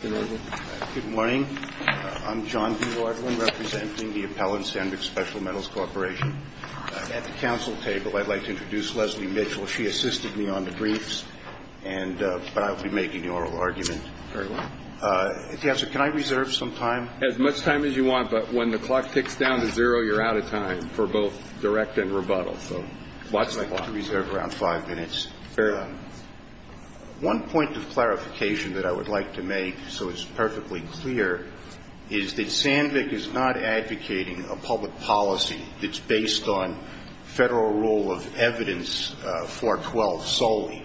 At the council table, I'd like to introduce Leslie Mitchell. She assisted me on the briefs, but I'll be making the oral argument. Can I reserve some time? As much time as you want, but when the clock ticks down to zero, you're out of time for both direct and rebuttal. I'd like to reserve around five minutes. One point of clarification that I would like to make is that I'm not a member of the board. And so it's perfectly clear, is that Sandvick is not advocating a public policy that's based on federal rule of evidence 412 solely.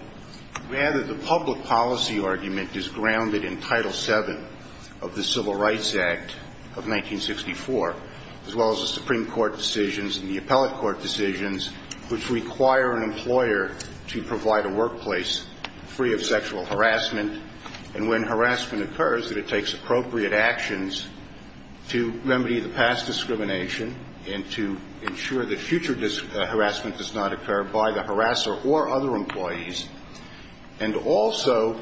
Rather, the public policy argument is grounded in Title VII of the Civil Rights Act of 1964, as well as the Supreme Court decisions and the appellate court decisions which require an employer to provide a workplace free of sexual harassment. And when harassment occurs, that it takes appropriate actions to remedy the past discrimination and to ensure that future harassment does not occur by the harasser or other employees. And also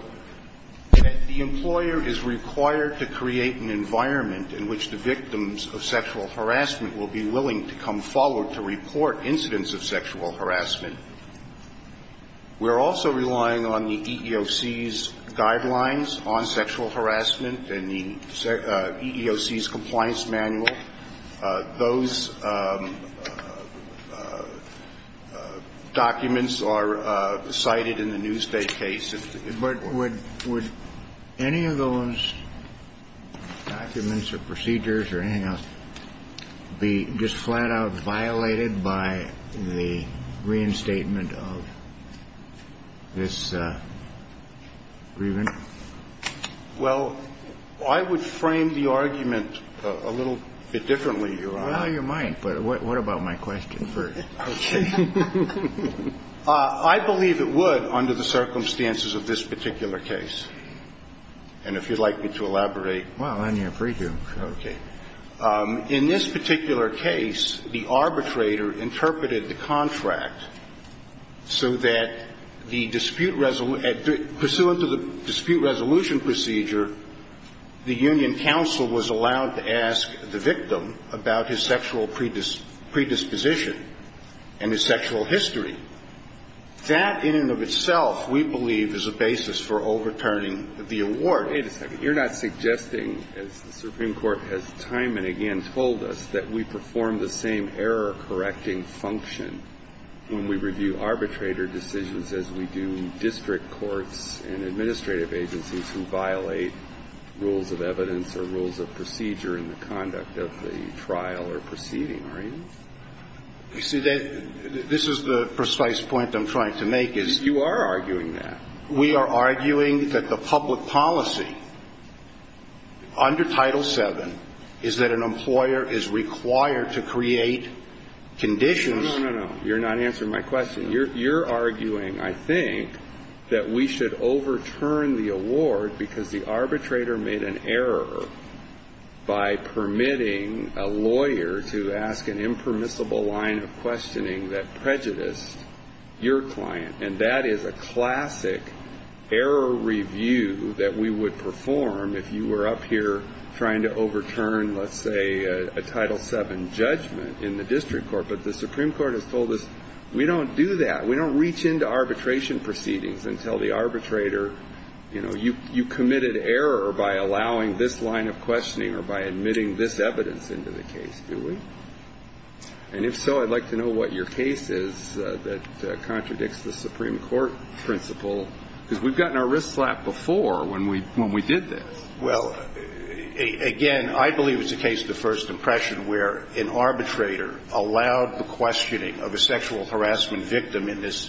that the employer is required to create an environment in which the victims of sexual harassment will be willing to come forward to report incidents of sexual harassment. We're also relying on the EEOC's guidelines on sexual harassment and the EEOC's compliance manual. Those documents are cited in the Newstate case. But would any of those documents or procedures or anything else be just flat-out violated by the reinstatement of this grievance? Well, I would frame the argument a little bit differently, Your Honor. Well, you might. But what about my question first? Okay. I believe it would under the circumstances of this particular case. And if you'd like me to elaborate. Well, then you're free to. Okay. In this particular case, the arbitrator interpreted the contract so that the dispute resolution at the – pursuant to the dispute resolution procedure, the union counsel was allowed to ask the victim about his sexual predisposition and his sexual history. That in and of itself, we believe, is a basis for overturning the award. Wait a second. You're not suggesting, as the Supreme Court has time and again told us, that we perform the same error-correcting function when we review arbitrator decisions as we do in district courts and administrative agencies who violate rules of evidence or rules of procedure in the conduct of the trial or proceeding, are you? You see, this is the precise point I'm trying to make, is you are arguing that. We are arguing that the public policy under Title VII is that an employer is required to create conditions. No, no, no, no. You're not answering my question. You're arguing, I think, that we should overturn the award because the arbitrator made an error by permitting a lawyer to ask an impermissible line of questioning that prejudiced your client. And that is a classic error review that we would perform if you were up here trying to overturn, let's say, a Title VII judgment in the district court. But the Supreme Court has told us, we don't do that. We don't reach into arbitration proceedings and tell the arbitrator, you know, you committed error by allowing this line of questioning or by admitting this evidence into the case, do we? And if so, I'd like to know what your case is that contradicts the Supreme Court principle, because we've gotten our wrist slapped before when we did this. Well, again, I believe it's a case of the first impression where an arbitrator allowed the questioning of a sexual harassment victim in this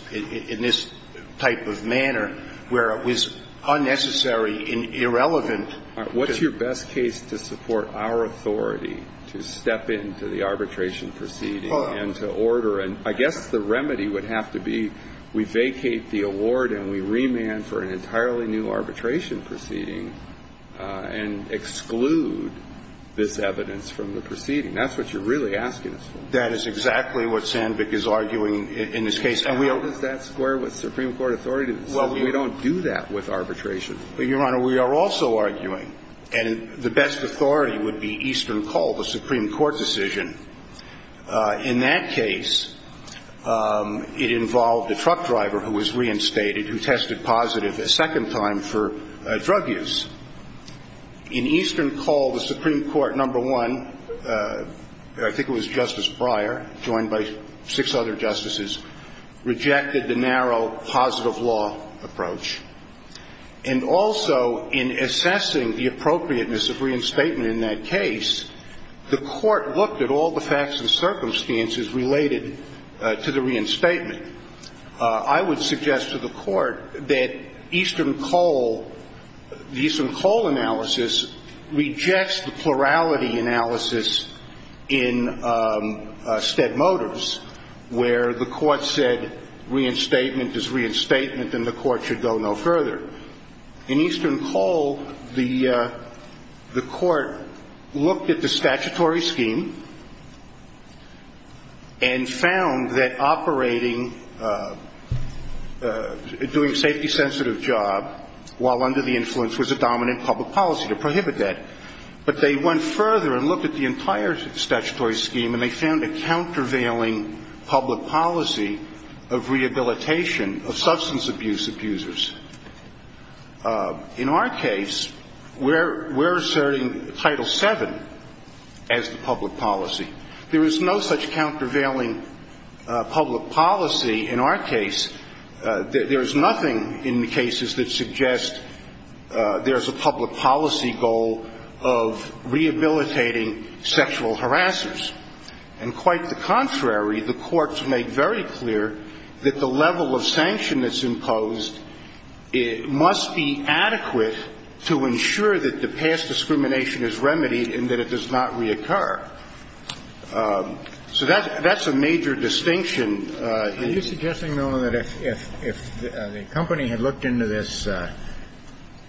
type of manner where it was unnecessary and irrelevant. What's your best case to support our authority to step into the arbitration proceeding and to order? And I guess the remedy would have to be we vacate the award and we remand for an entirely new arbitration proceeding and exclude this evidence from the proceeding. That's what you're really asking us for. That is exactly what Sandvik is arguing in this case. How does that square with Supreme Court authority to decide? Well, we don't do that with arbitration. Your Honor, we are also arguing, and the best authority would be Eastern Colt, a Supreme Court decision. In that case, it involved a truck driver who was reinstated who tested positive a second time for drug use. In Eastern Colt, the Supreme Court, number one, I think it was Justice Breyer, joined by six other justices, rejected the narrow positive law approach. And also, in assessing the appropriateness of reinstatement in that case, the court looked at all the facts and circumstances related to the reinstatement. I would suggest to the court that Eastern Colt, the Eastern Colt analysis, rejects the plurality analysis in Stead Motors where the court said reinstatement is reinstatement and the court should go no further. In Eastern Colt, the court looked at the statutory scheme and found that operating, doing a safety-sensitive job while under the influence was a dominant public policy to prohibit that. But they went further and looked at the entire statutory scheme and they found a countervailing public policy of rehabilitation of substance abuse abusers. In our case, we're asserting Title VII as the public policy. There is no such countervailing public policy in our case. There is nothing in the cases that suggest there is a public policy goal of rehabilitating sexual harassers. And quite the contrary, the courts make very clear that the level of sanction that's imposed must be adequate to ensure that the past discrimination is remedied and that it does not reoccur. So that's a major distinction. Kennedy. Are you suggesting, though, that if the company had looked into this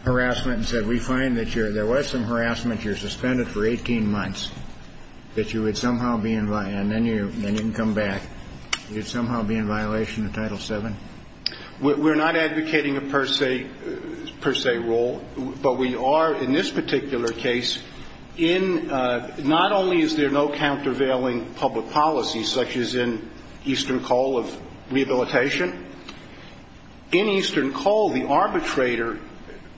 harassment and said, we find that there was some harassment, you're suspended for 18 months, that you would somehow be in, and then you didn't come back, you'd somehow be in violation of Title VII? We're not advocating a per se rule. But we are in this particular case in, not only is there no countervailing public policy, such as in Eastern Colt of rehabilitation. In Eastern Colt, the arbitrator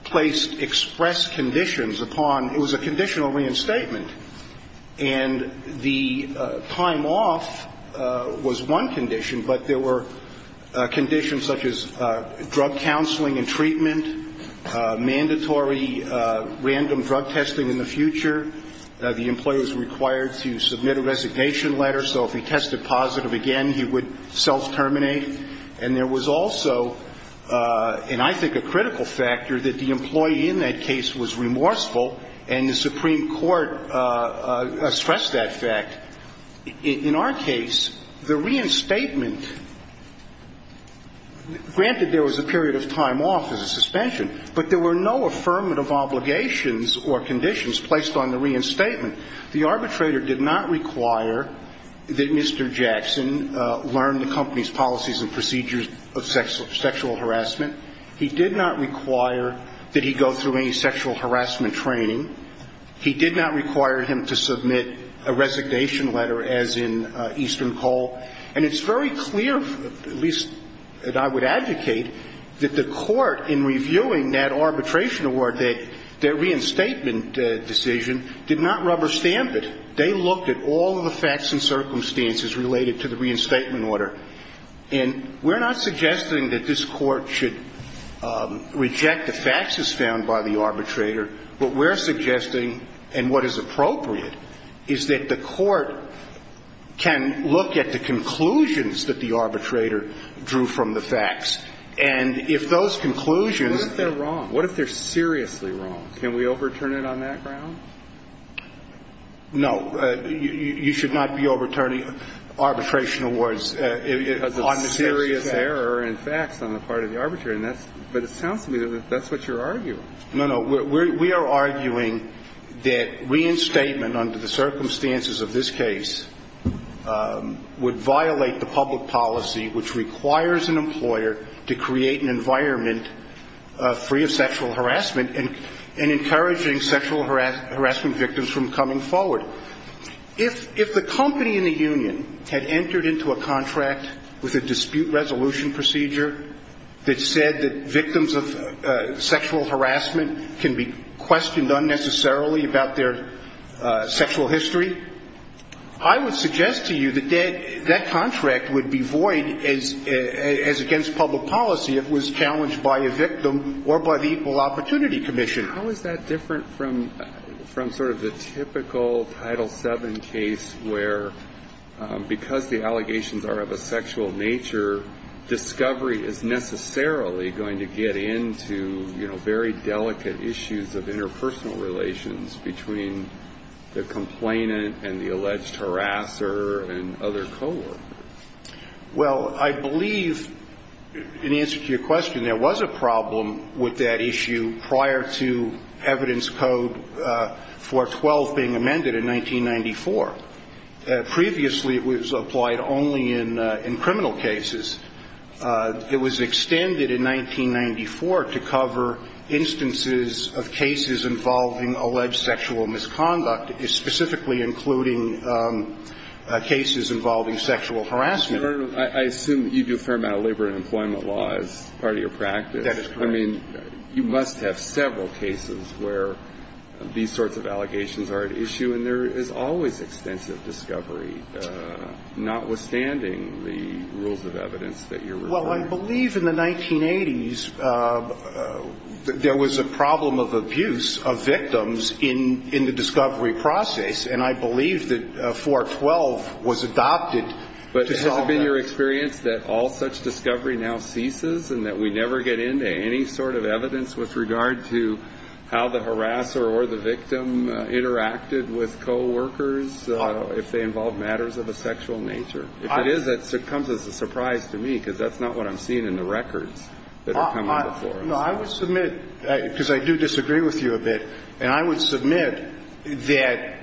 placed express conditions upon, it was a conditional reinstatement. And the time off was one condition, but there were conditions such as drug counseling and treatment, mandatory random drug testing in the future. The employee was required to submit a resignation letter. So if he tested positive again, he would self-terminate. And there was also, and I think a critical factor, that the employee in that case was remorseful, and the Supreme Court stressed that fact. In our case, the reinstatement, granted there was a period of time off as a suspension, but there were no affirmative obligations or conditions placed on the reinstatement. The arbitrator did not require that Mr. Jackson learn the company's policies and procedures of sexual harassment. He did not require that he go through any sexual harassment training. He did not require him to submit a resignation letter, as in Eastern Colt. And it's very clear, at least that I would advocate, that the court in reviewing that arbitration award, their reinstatement decision, did not rubber stamp it. They looked at all of the facts and circumstances related to the reinstatement order. And we're not suggesting that this Court should reject the facts as found by the arbitrator. What we're suggesting, and what is appropriate, is that the Court can look at the conclusions that the arbitrator drew from the facts. And if those conclusions are wrong. What if they're seriously wrong? Can we overturn it on that ground? No. You should not be overturning arbitration awards. Because it's a serious error in facts on the part of the arbitrator. But it sounds to me that that's what you're arguing. No, no. We are arguing that reinstatement under the circumstances of this case would violate the public policy which requires an employer to create an environment free of sexual harassment and encouraging sexual harassment victims from coming forward. If the company in the union had entered into a contract with a dispute resolution procedure that said that victims of sexual harassment can be questioned unnecessarily about their sexual history, I would suggest to you that that contract would be void as against public policy it was challenged by a victim or by the Equal Opportunity Commission. How is that different from sort of the typical Title VII case where, because the allegations are of a sexual nature, discovery is necessarily going to get into, you know, very delicate issues of interpersonal relations between the complainant and the alleged harasser and other coworkers? Well, I believe, in answer to your question, there was a problem with that issue prior to evidence code 412 being amended in 1994. Previously, it was applied only in criminal cases. It was extended in 1994 to cover instances of cases involving alleged sexual misconduct, specifically including cases involving sexual harassment. I assume you do a fair amount of labor and employment law as part of your practice. That is correct. I mean, you must have several cases where these sorts of allegations are at issue, and there is always extensive discovery, notwithstanding the rules of evidence that you're referring to. Well, I believe in the 1980s there was a problem of abuse of victims in the discovery process, and I believe that 412 was adopted to solve that. But has it been your experience that all such discovery now ceases and that we never get into any sort of evidence with regard to how the harasser or the victim interacted with coworkers if they involved matters of a sexual nature? If it is, that comes as a surprise to me, because that's not what I'm seeing in the records that are coming before us. No, I would submit, because I do disagree with you a bit, and I would submit that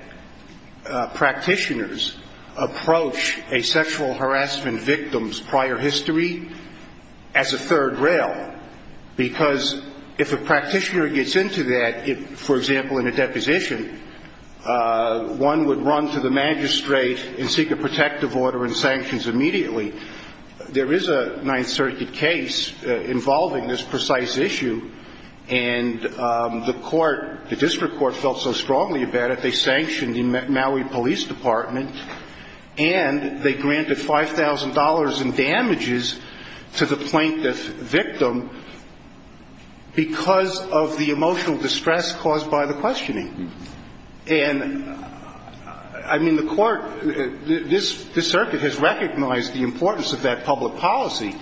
practitioners approach a sexual harassment victim's prior history as a third rail, because if a practitioner gets into that, for example, in a deposition, one would run to the magistrate and seek a protective order and sanctions immediately. There is a Ninth Circuit case involving this precise issue, and the court, the district court felt so strongly about it, they sanctioned the Maui Police Department, and they granted $5,000 in damages to the plaintiff victim because of the emotional distress caused by the questioning. And, I mean, the court, this circuit has recognized the importance of that public policy,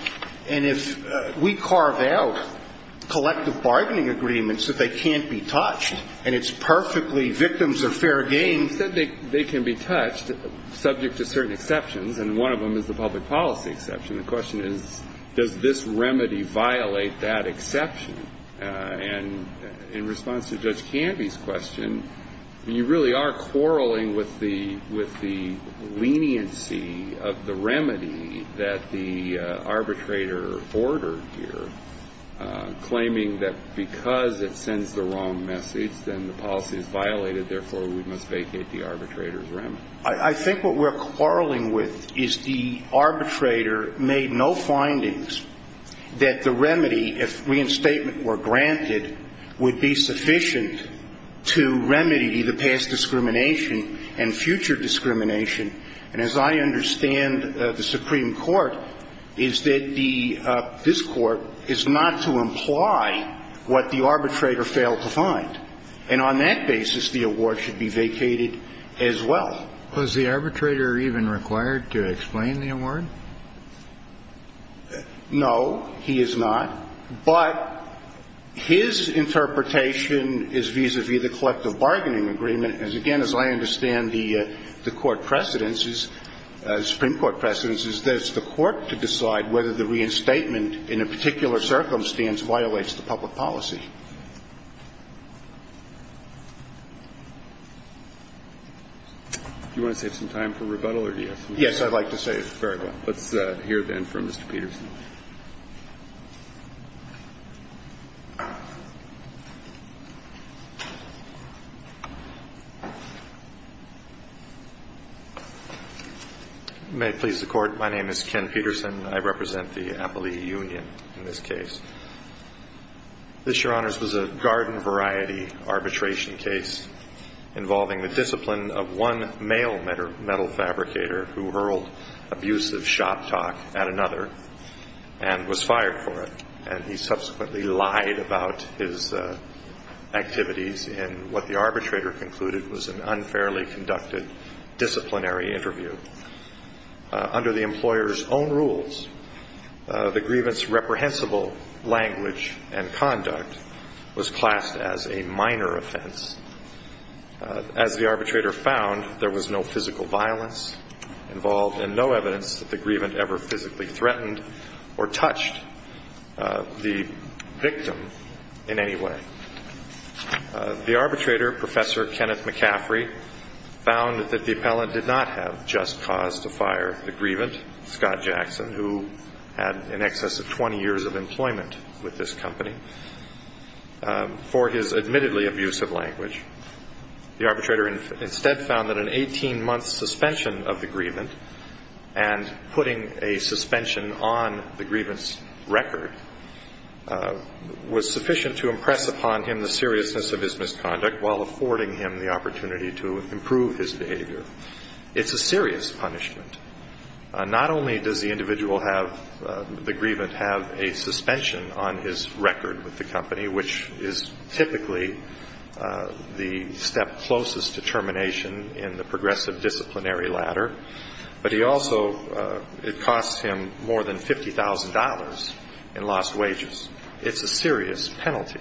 and if we carve out collective bargaining agreements that they can't be touched, and it's perfectly victims are fair game. They can be touched subject to certain exceptions, and one of them is the public policy exception. The question is, does this remedy violate that exception? And in response to Judge Canby's question, you really are quarreling with the leniency of the remedy that the arbitrator ordered here, claiming that because it sends the wrong message, then the policy is violated, therefore we must vacate the arbitrator's remedy. I think what we're quarreling with is the arbitrator made no findings that the remedy, if reinstatement were granted, would be sufficient to remedy the past discrimination and future discrimination. And as I understand the Supreme Court, is that this court is not to imply what the arbitrator failed to find. And on that basis, the award should be vacated as well. Was the arbitrator even required to explain the award? No, he is not. But his interpretation is vis-à-vis the collective bargaining agreement. And again, as I understand the court precedence, the Supreme Court precedence, is that it's the court to decide whether the reinstatement in a particular circumstance violates the public policy. Do you want to save some time for rebuttal or do you have some questions? Yes, I'd like to save very well. Let's hear then from Mr. Peterson. May it please the Court. My name is Ken Peterson. I represent the Appalachian Union in this case. This, Your Honors, was a garden variety arbitration case involving the discipline of one male metal fabricator who hurled abusive shop talk at another and was fired for it. And he subsequently lied about his activities in what the arbitrator concluded was an unfairly conducted disciplinary interview. Under the employer's own rules, the grievance's reprehensible language and conduct was classed as a minor offense. As the arbitrator found, there was no physical violence involved and no evidence that the grievant ever physically threatened or touched the victim in any way. The arbitrator, Professor Kenneth McCaffrey, found that the appellant did not have just cause to fire the grievant, Scott Jackson, who had in excess of 20 years of employment with this company, for his admittedly abusive language. The arbitrator instead found that an 18-month suspension of the grievant and putting a suspension on the grievance record was sufficient to impress upon him the seriousness of his misconduct while affording him the opportunity to improve his behavior. It's a serious punishment. Not only does the individual have the grievant have a suspension on his record with the company, which is typically the step closest to termination in the progressive disciplinary ladder, but he also it costs him more than $50,000 in lost wages. It's a serious penalty.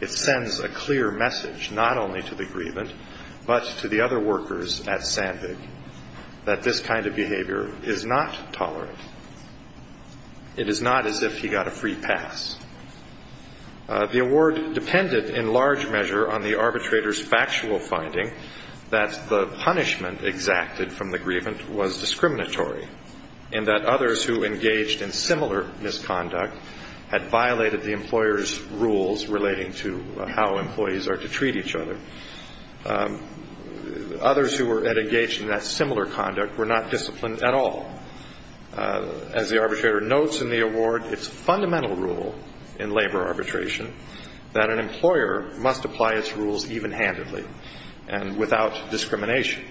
It sends a clear message not only to the grievant but to the other workers at Sandvig that this kind of behavior is not tolerant. It is not as if he got a free pass. The award depended in large measure on the arbitrator's factual finding that the punishment exacted from the grievant was discriminatory and that others who engaged in similar misconduct had violated the employer's rules relating to how employees are to treat each other. Others who were engaged in that similar conduct were not disciplined at all. As the arbitrator notes in the award, it's a fundamental rule in labor arbitration that an employer must apply its rules even-handedly and without discrimination.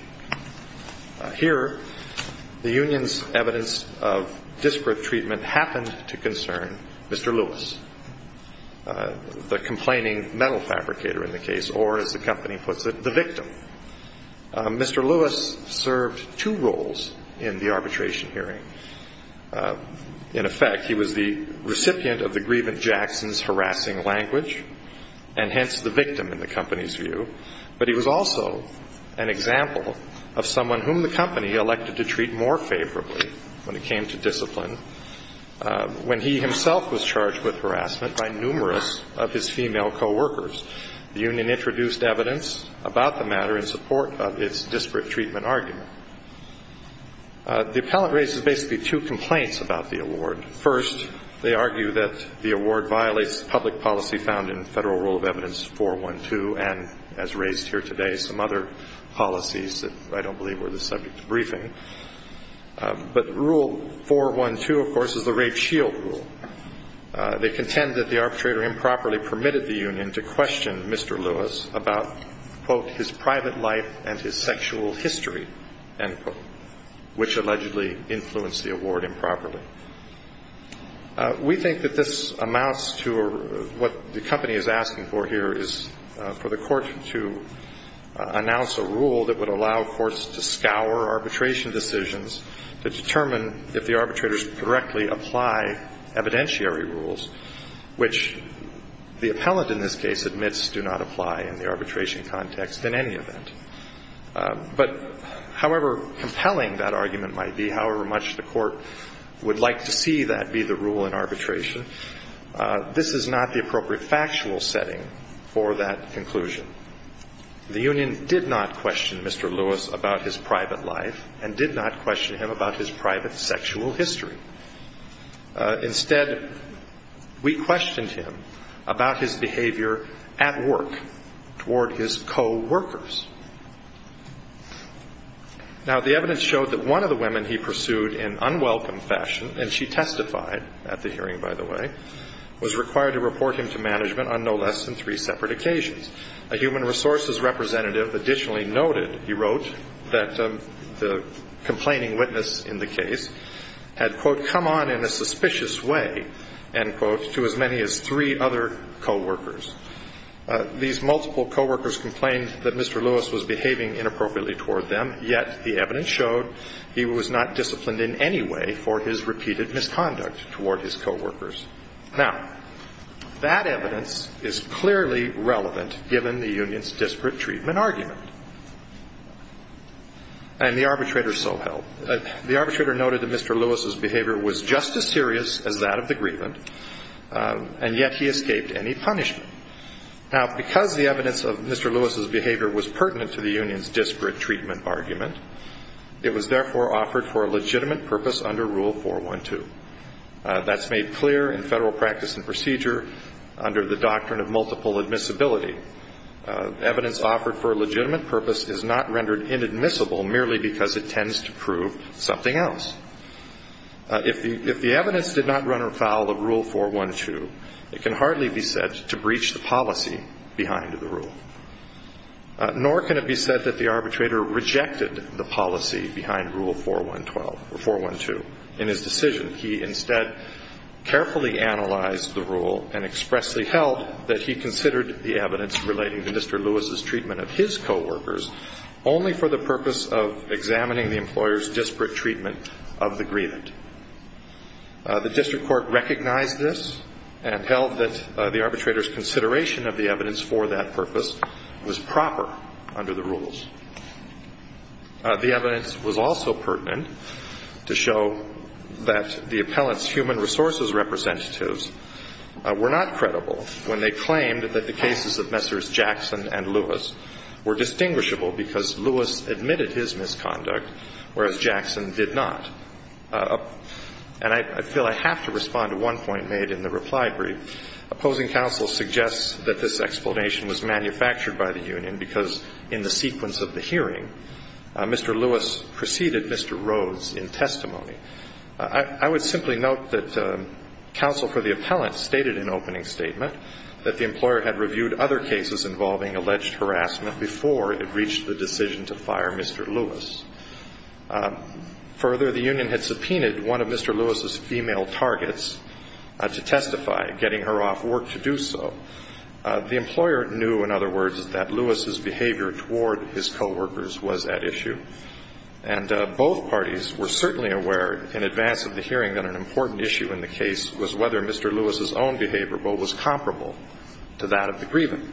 Here, the union's evidence of disparate treatment happened to concern Mr. Lewis, the complaining metal fabricator in the case, or as the company puts it, the victim. Mr. Lewis served two roles in the arbitration hearing. In effect, he was the recipient of the grievant Jackson's harassing language and hence the victim in the company's view, but he was also an example of someone whom the company elected to treat more favorably when it came to discipline. When he himself was charged with harassment by numerous of his female co-workers, the union introduced evidence about the matter in support of its disparate treatment argument. The appellant raises basically two complaints about the award. First, they argue that the award violates public policy found in Federal Rule of Evidence 412 and, as raised here today, some other policies that I don't believe were the subject of the briefing. But Rule 412, of course, is the rape shield rule. They contend that the arbitrator improperly permitted the union to question Mr. Lewis about, quote, his private life and his sexual history, end quote, which allegedly influenced the award improperly. We think that this amounts to what the company is asking for here is for the court to announce a rule that would allow courts to scour arbitration decisions to determine if the arbitrators directly apply evidentiary rules, which the appellant in this case admits do not apply in the arbitration context in any event. But however compelling that argument might be, however much the court would like to see that be the rule in arbitration, this is not the appropriate factual setting for that conclusion. The union did not question Mr. Lewis about his private life and did not question him about his private sexual history. Instead, we questioned him about his behavior at work toward his coworkers. Now, the evidence showed that one of the women he pursued in unwelcome fashion, and she testified at the hearing, by the way, was required to report him to management on no less than three separate occasions, a human resources representative additionally noted, he wrote, that the complaining witness in the case had, quote, come on in a suspicious way, end quote, to as many as three other coworkers. These multiple coworkers complained that Mr. Lewis was behaving inappropriately toward them, yet the evidence showed he was not disciplined in any way for his repeated misconduct toward his coworkers. Now, that evidence is clearly relevant given the union's disparate treatment argument. And the arbitrator so held. The arbitrator noted that Mr. Lewis's behavior was just as serious as that of the grievance, and yet he escaped any punishment. Now, because the evidence of Mr. Lewis's behavior was pertinent to the union's disparate treatment argument, it was therefore offered for a legitimate purpose under Rule 412. That's made clear in federal practice and procedure under the doctrine of multiple admissibility. Evidence offered for a legitimate purpose is not rendered inadmissible merely because it tends to prove something else. If the evidence did not run afoul of Rule 412, it can hardly be said to breach the policy behind the rule, nor can it be said that the arbitrator rejected the policy behind Rule 412. In his decision, he instead carefully analyzed the rule and expressly held that he considered the evidence relating to Mr. Lewis's treatment of his coworkers only for the purpose of examining the employer's disparate treatment of the grievant. The district court recognized this and held that the arbitrator's consideration of the evidence for that purpose was proper under the rules. The evidence was also pertinent to show that the appellant's human resources representatives were not credible when they claimed that the cases of Messrs. Jackson and Lewis were distinguishable because Lewis admitted his misconduct, whereas Jackson did not. And I feel I have to respond to one point made in the reply brief. Opposing counsel suggests that this explanation was manufactured by the union because in the sequence of the hearing, Mr. Lewis preceded Mr. Rhodes in testimony. I would simply note that counsel for the appellant stated in opening statement that the employer had reviewed other cases involving alleged harassment before it reached the decision to fire Mr. Lewis. Further, the union had subpoenaed one of Mr. Lewis's female targets to testify, getting her off work to do so. The employer knew, in other words, that Lewis's behavior toward his coworkers was at issue. And both parties were certainly aware in advance of the hearing that an important issue in the case was whether Mr. Lewis's own behavior was comparable to that of the grievant,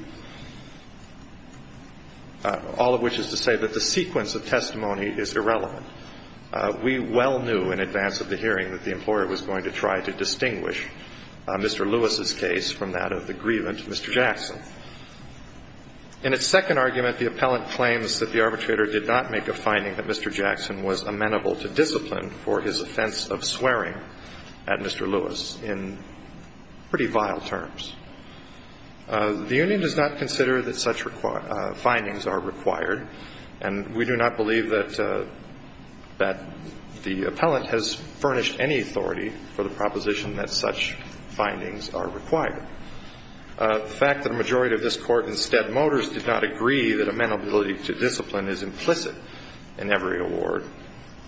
all of which is to say that the sequence of testimony is irrelevant. We well knew in advance of the hearing that the employer was going to try to distinguish Mr. Lewis's case from that of the grievant, Mr. Jackson. In its second argument, the appellant claims that the arbitrator did not make a finding that Mr. Jackson was amenable to discipline for his offense of swearing at Mr. Lewis in pretty vile terms. The union does not consider that such findings are required, and we do not believe that the appellant has furnished any authority for the proposition that such findings are required. The fact that a majority of this Court in Stead Motors did not agree that amenability to discipline is implicit in every award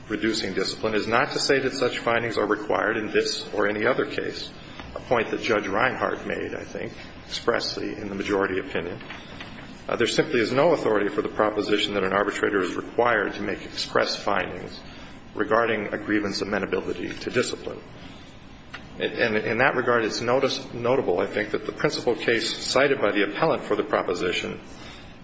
reducing discipline is not to say that such a majority opinion is not necessary. There simply is no authority for the proposition that an arbitrator is required to make express findings regarding a grievance of amenability to discipline. In that regard, it's notable, I think, that the principal case cited by the appellant for the proposition,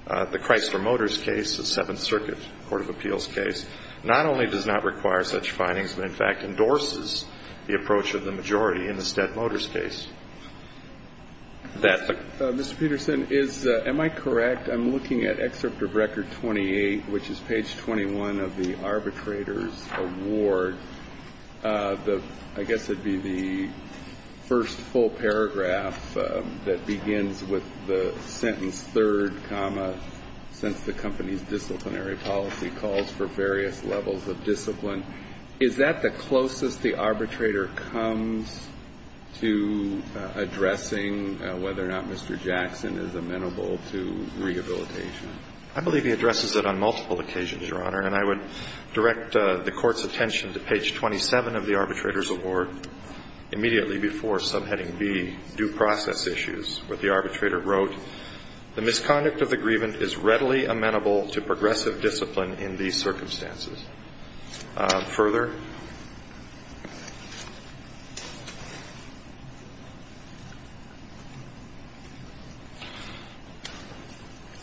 the Chrysler Motors case, the Seventh Circuit Court of Appeals case, not only does not require such findings but, in fact, endorses the approach of the majority in the Stead Motors case. Mr. Peterson, am I correct? I'm looking at Excerpt of Record 28, which is page 21 of the arbitrator's award. I guess it would be the first full paragraph that begins with the sentence, third comma, since the company's disciplinary policy calls for various levels of discipline. Is that the closest the arbitrator comes to addressing whether or not Mr. Jackson is amenable to rehabilitation? I believe he addresses it on multiple occasions, Your Honor, and I would direct the Court's attention to page 27 of the arbitrator's award immediately before subheading B, due process issues, where the arbitrator wrote, The misconduct of the grievant is readily amenable to progressive discipline in these circumstances. Further?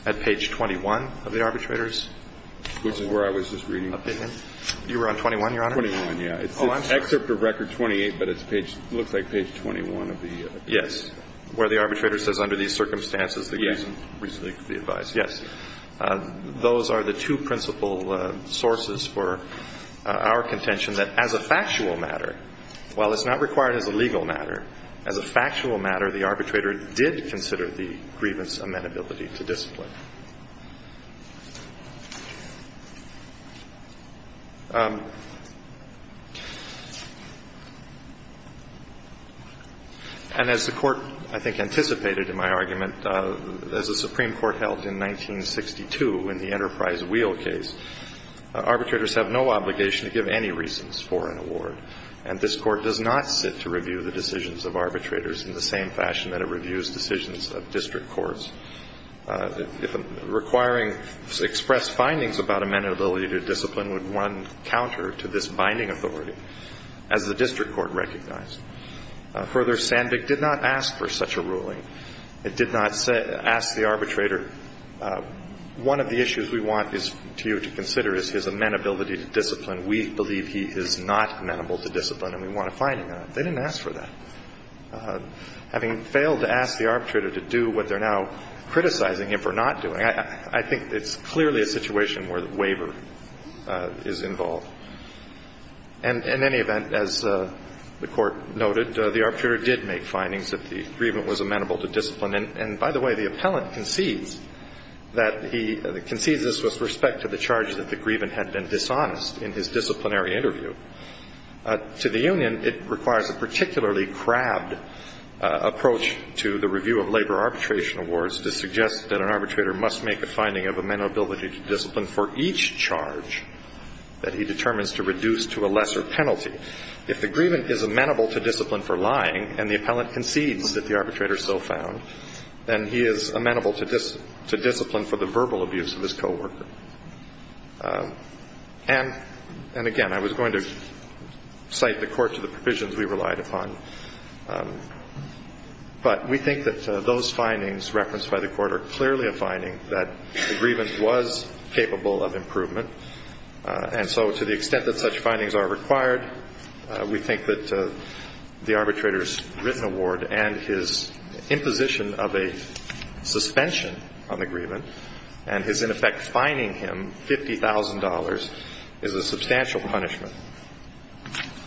At page 21 of the arbitrator's? Which is where I was just reading. You were on 21, Your Honor? 21, yes. It's Excerpt of Record 28, but it looks like page 21 of the. Yes. Where the arbitrator says, Under these circumstances, the grievance is reasonably to be advised. Yes. Those are the two principal sources for our contention that as a factual matter, while it's not required as a legal matter, as a factual matter, the arbitrator did consider the grievance amenability to discipline. And as the Court, I think, anticipated in my argument, as the Supreme Court held in 1962 in the Enterprise Wheel case, arbitrators have no obligation to give any reasons for an award, and this Court does not sit to review the decisions of arbitrators in the same fashion that it reviews decisions of district courts. If requiring expressed findings about amenability to discipline would run counter to this binding authority, as the district court recognized. Further, Sandvik did not ask for such a ruling. It did not ask the arbitrator, One of the issues we want you to consider is his amenability to discipline. We believe he is not amenable to discipline, and we want a finding on it. They didn't ask for that. Having failed to ask the arbitrator to do what they're now criticizing him for not doing, I think it's clearly a situation where the waiver is involved. And in any event, as the Court noted, the arbitrator did make findings that the grievance was amenable to discipline. And by the way, the appellant concedes that he concedes this with respect to the charge that the grievance had been dishonest in his disciplinary interview. To the union, it requires a particularly crabbed approach to the review of labor arbitration awards to suggest that an arbitrator must make a finding of amenability to discipline for each charge that he determines to reduce to a lesser penalty. If the grievance is amenable to discipline for lying, and the appellant concedes that the arbitrator is so found, then he is amenable to discipline for the verbal abuse of his coworker. And again, I was going to cite the Court to the provisions we relied upon, but we think that those findings referenced by the Court are clearly a finding that the grievance was capable of improvement. And so to the extent that such findings are required, we think that the arbitrator's written award and his imposition of a suspension on the grievance and his, in effect, fining him $50,000 is a substantial punishment.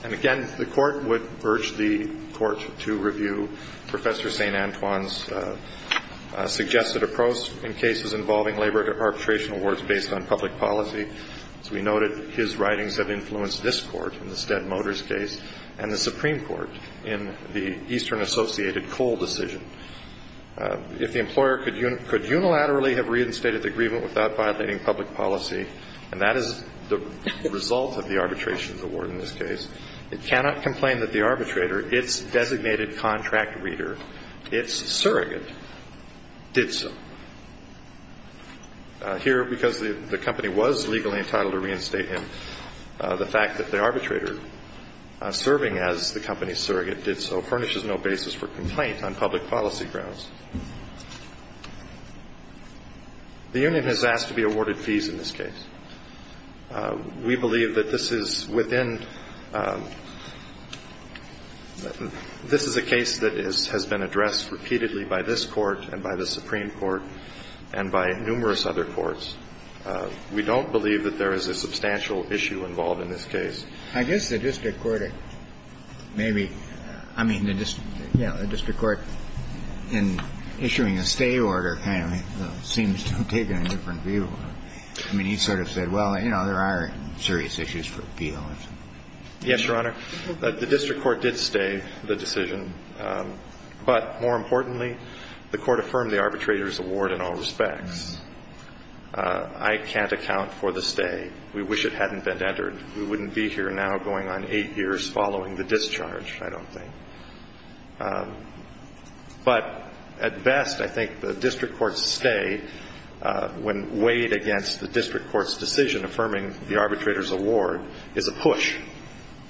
And again, the Court would urge the Court to review Professor St. Antoine's suggested approach in cases involving labor arbitration awards based on public policy. As we noted, his writings have influenced this Court in the Stead Motors case and the Supreme Court in the Eastern Associated Coal decision. If the employer could unilaterally have reinstated the grievance without violating public policy, and that is the result of the arbitration award in this case, it cannot complain that the arbitrator, its designated contract reader, its surrogate, did so. Here, because the company was legally entitled to reinstate him, the fact that the arbitrator, serving as the company's surrogate, did so furnishes no basis for complaint on public policy grounds. The union has asked to be awarded fees in this case. We believe that this is within – this is a case that has been addressed repeatedly by this Court and by the Supreme Court and by numerous other courts. We don't believe that there is a substantial issue involved in this case. I guess the district court may be – I mean, the district – you know, the district court in issuing a stay order kind of seems to have taken a different view. I mean, he sort of said, well, you know, there are serious issues for appeal. Yes, Your Honor. The district court did stay the decision. But more importantly, the Court affirmed the arbitrator's award in all respects. I can't account for the stay. We wish it hadn't been entered. We wouldn't be here now going on eight years following the discharge, I don't think. But at best, I think the district court's stay, when weighed against the district court's decision affirming the arbitrator's award, is a push.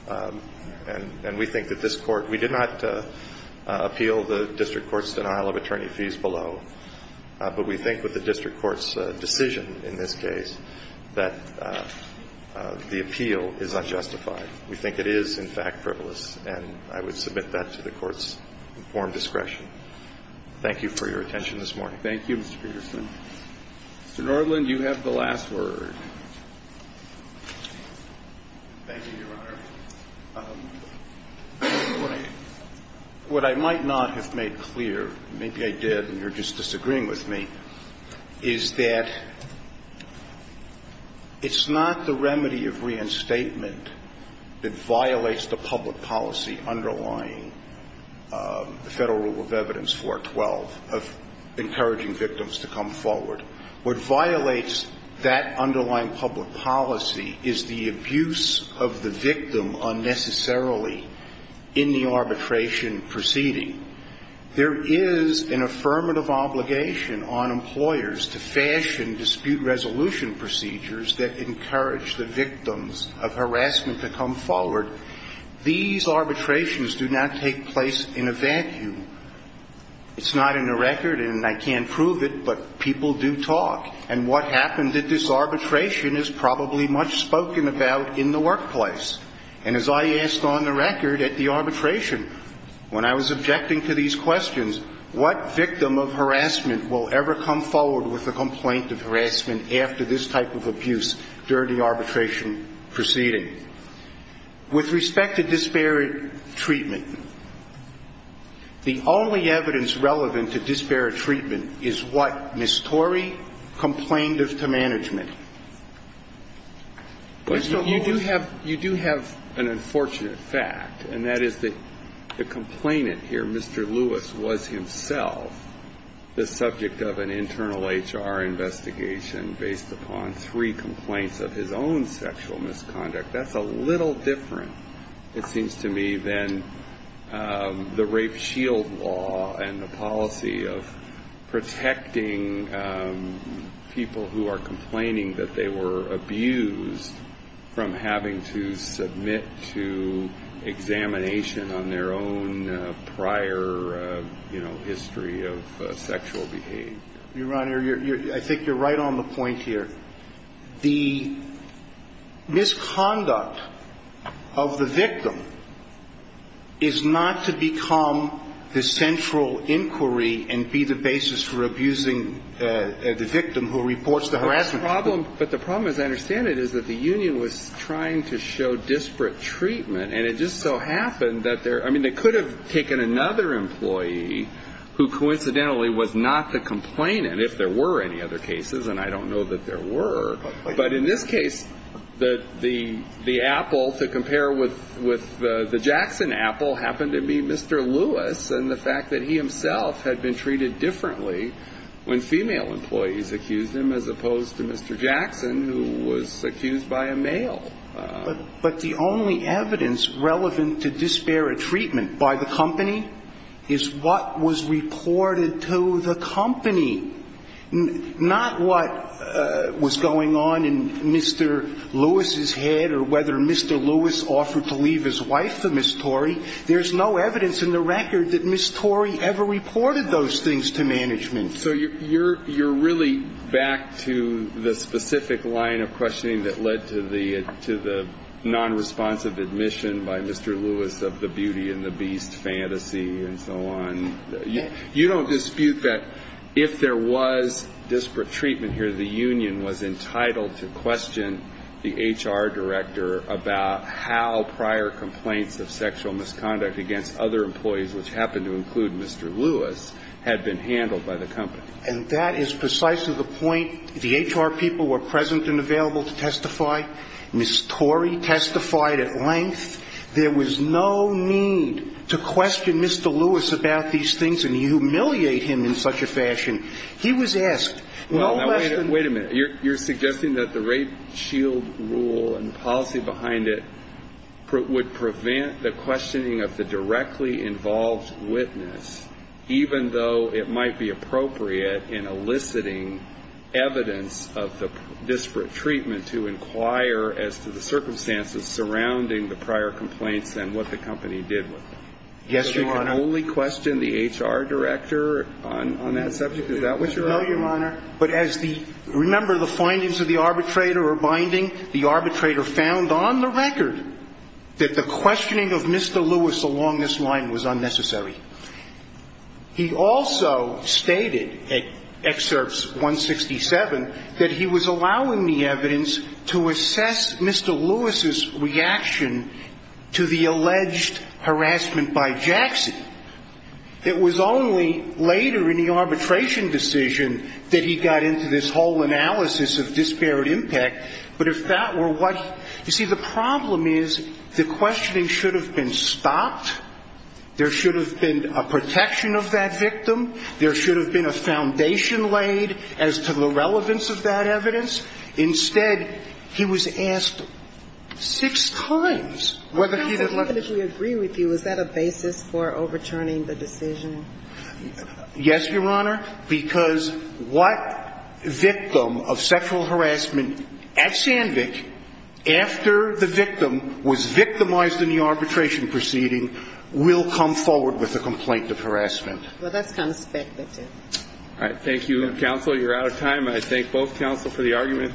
And we think that this Court – we did not appeal the district court's denial of attorney fees below, but we think with the district court's decision in this case that the appeal is unjustified. We think it is, in fact, frivolous, and I would submit that to the Court's informed discretion. Thank you for your attention this morning. Thank you, Mr. Peterson. Mr. Norland, you have the last word. Thank you, Your Honor. What I might not have made clear – maybe I did, and you're just disagreeing with me – is that it's not the remedy of reinstatement. It violates the public policy underlying the Federal Rule of Evidence 412 of encouraging victims to come forward. What violates that underlying public policy is the abuse of the victim unnecessarily in the arbitration proceeding. There is an affirmative obligation on employers to fashion dispute resolution procedures that encourage the victims of harassment to come forward. These arbitrations do not take place in a vacuum. It's not in the record, and I can't prove it, but people do talk. And what happened at this arbitration is probably much spoken about in the workplace. And as I asked on the record at the arbitration, when I was objecting to these types of abuse during the arbitration proceeding, with respect to disparate treatment, the only evidence relevant to disparate treatment is what Ms. Torrey complained of to management. You do have an unfortunate fact, and that is that the complainant here, Mr. Lewis, was himself the subject of an internal HR investigation based upon his own three complaints of his own sexual misconduct. That's a little different, it seems to me, than the rape shield law and the policy of protecting people who are complaining that they were abused from having to submit to examination on their own prior, you know, history of sexual behavior. Your Honor, I think you're right on the point here. The misconduct of the victim is not to become the central inquiry and be the basis for abusing the victim who reports the harassment. But the problem, as I understand it, is that the union was trying to show disparate treatment, and it just so happened that there – I mean, they could have taken another employee who, coincidentally, was not the complainant, if there were any other cases, and I don't know that there were. But in this case, the apple, to compare with the Jackson apple, happened to be Mr. Lewis, and the fact that he himself had been treated differently when female employees accused him, as opposed to Mr. Jackson, who was accused by a male. But the only evidence relevant to disparate treatment by the company is what was reported to the company, not what was going on in Mr. Lewis's head or whether Mr. Lewis offered to leave his wife to Ms. Torrey. There's no evidence in the record that Ms. Torrey ever reported those things to management. So you're really back to the specific line of questioning that led to the nonresponsive admission by Mr. Lewis of the beauty and the beast fantasy and so on. You don't dispute that if there was disparate treatment here, the union was entitled to question the HR director about how prior complaints of sexual misconduct against other employees were handled. And that is precisely the point. The HR people were present and available to testify. Ms. Torrey testified at length. There was no need to question Mr. Lewis about these things and humiliate him in such a fashion. He was asked. Wait a minute. You're suggesting that the rape shield rule and policy behind it would prevent the questioning of the directly involved witness, even though it might be appropriate in eliciting evidence of the disparate treatment to inquire as to the circumstances surrounding the prior complaints and what the company did with them. Yes, Your Honor. I can only question the HR director on that subject. Is that what you're arguing? No, Your Honor. But as the remember the findings of the arbitrator or binding, the arbitrator found on the record that the questioning of Mr. Lewis along this line was unnecessary. He also stated at excerpts 167 that he was allowing the evidence to assess Mr. Lewis's reaction to the alleged harassment by Jackson. It was only later in the arbitration decision that he got into this whole analysis of disparate impact. But if that were what you see, the problem is the questioning should have been stopped. There should have been a protection of that victim. There should have been a foundation laid as to the relevance of that evidence. Instead, he was asked six times whether he had let him. Counsel, if we agree with you, is that a basis for overturning the decision? Yes, Your Honor, because what victim of sexual harassment at Sandvik after the victim was victimized in the arbitration proceeding will come forward with a complaint of harassment. Well, that's kind of speculative. All right. Thank you, counsel. You're out of time. I thank both counsel for the argument.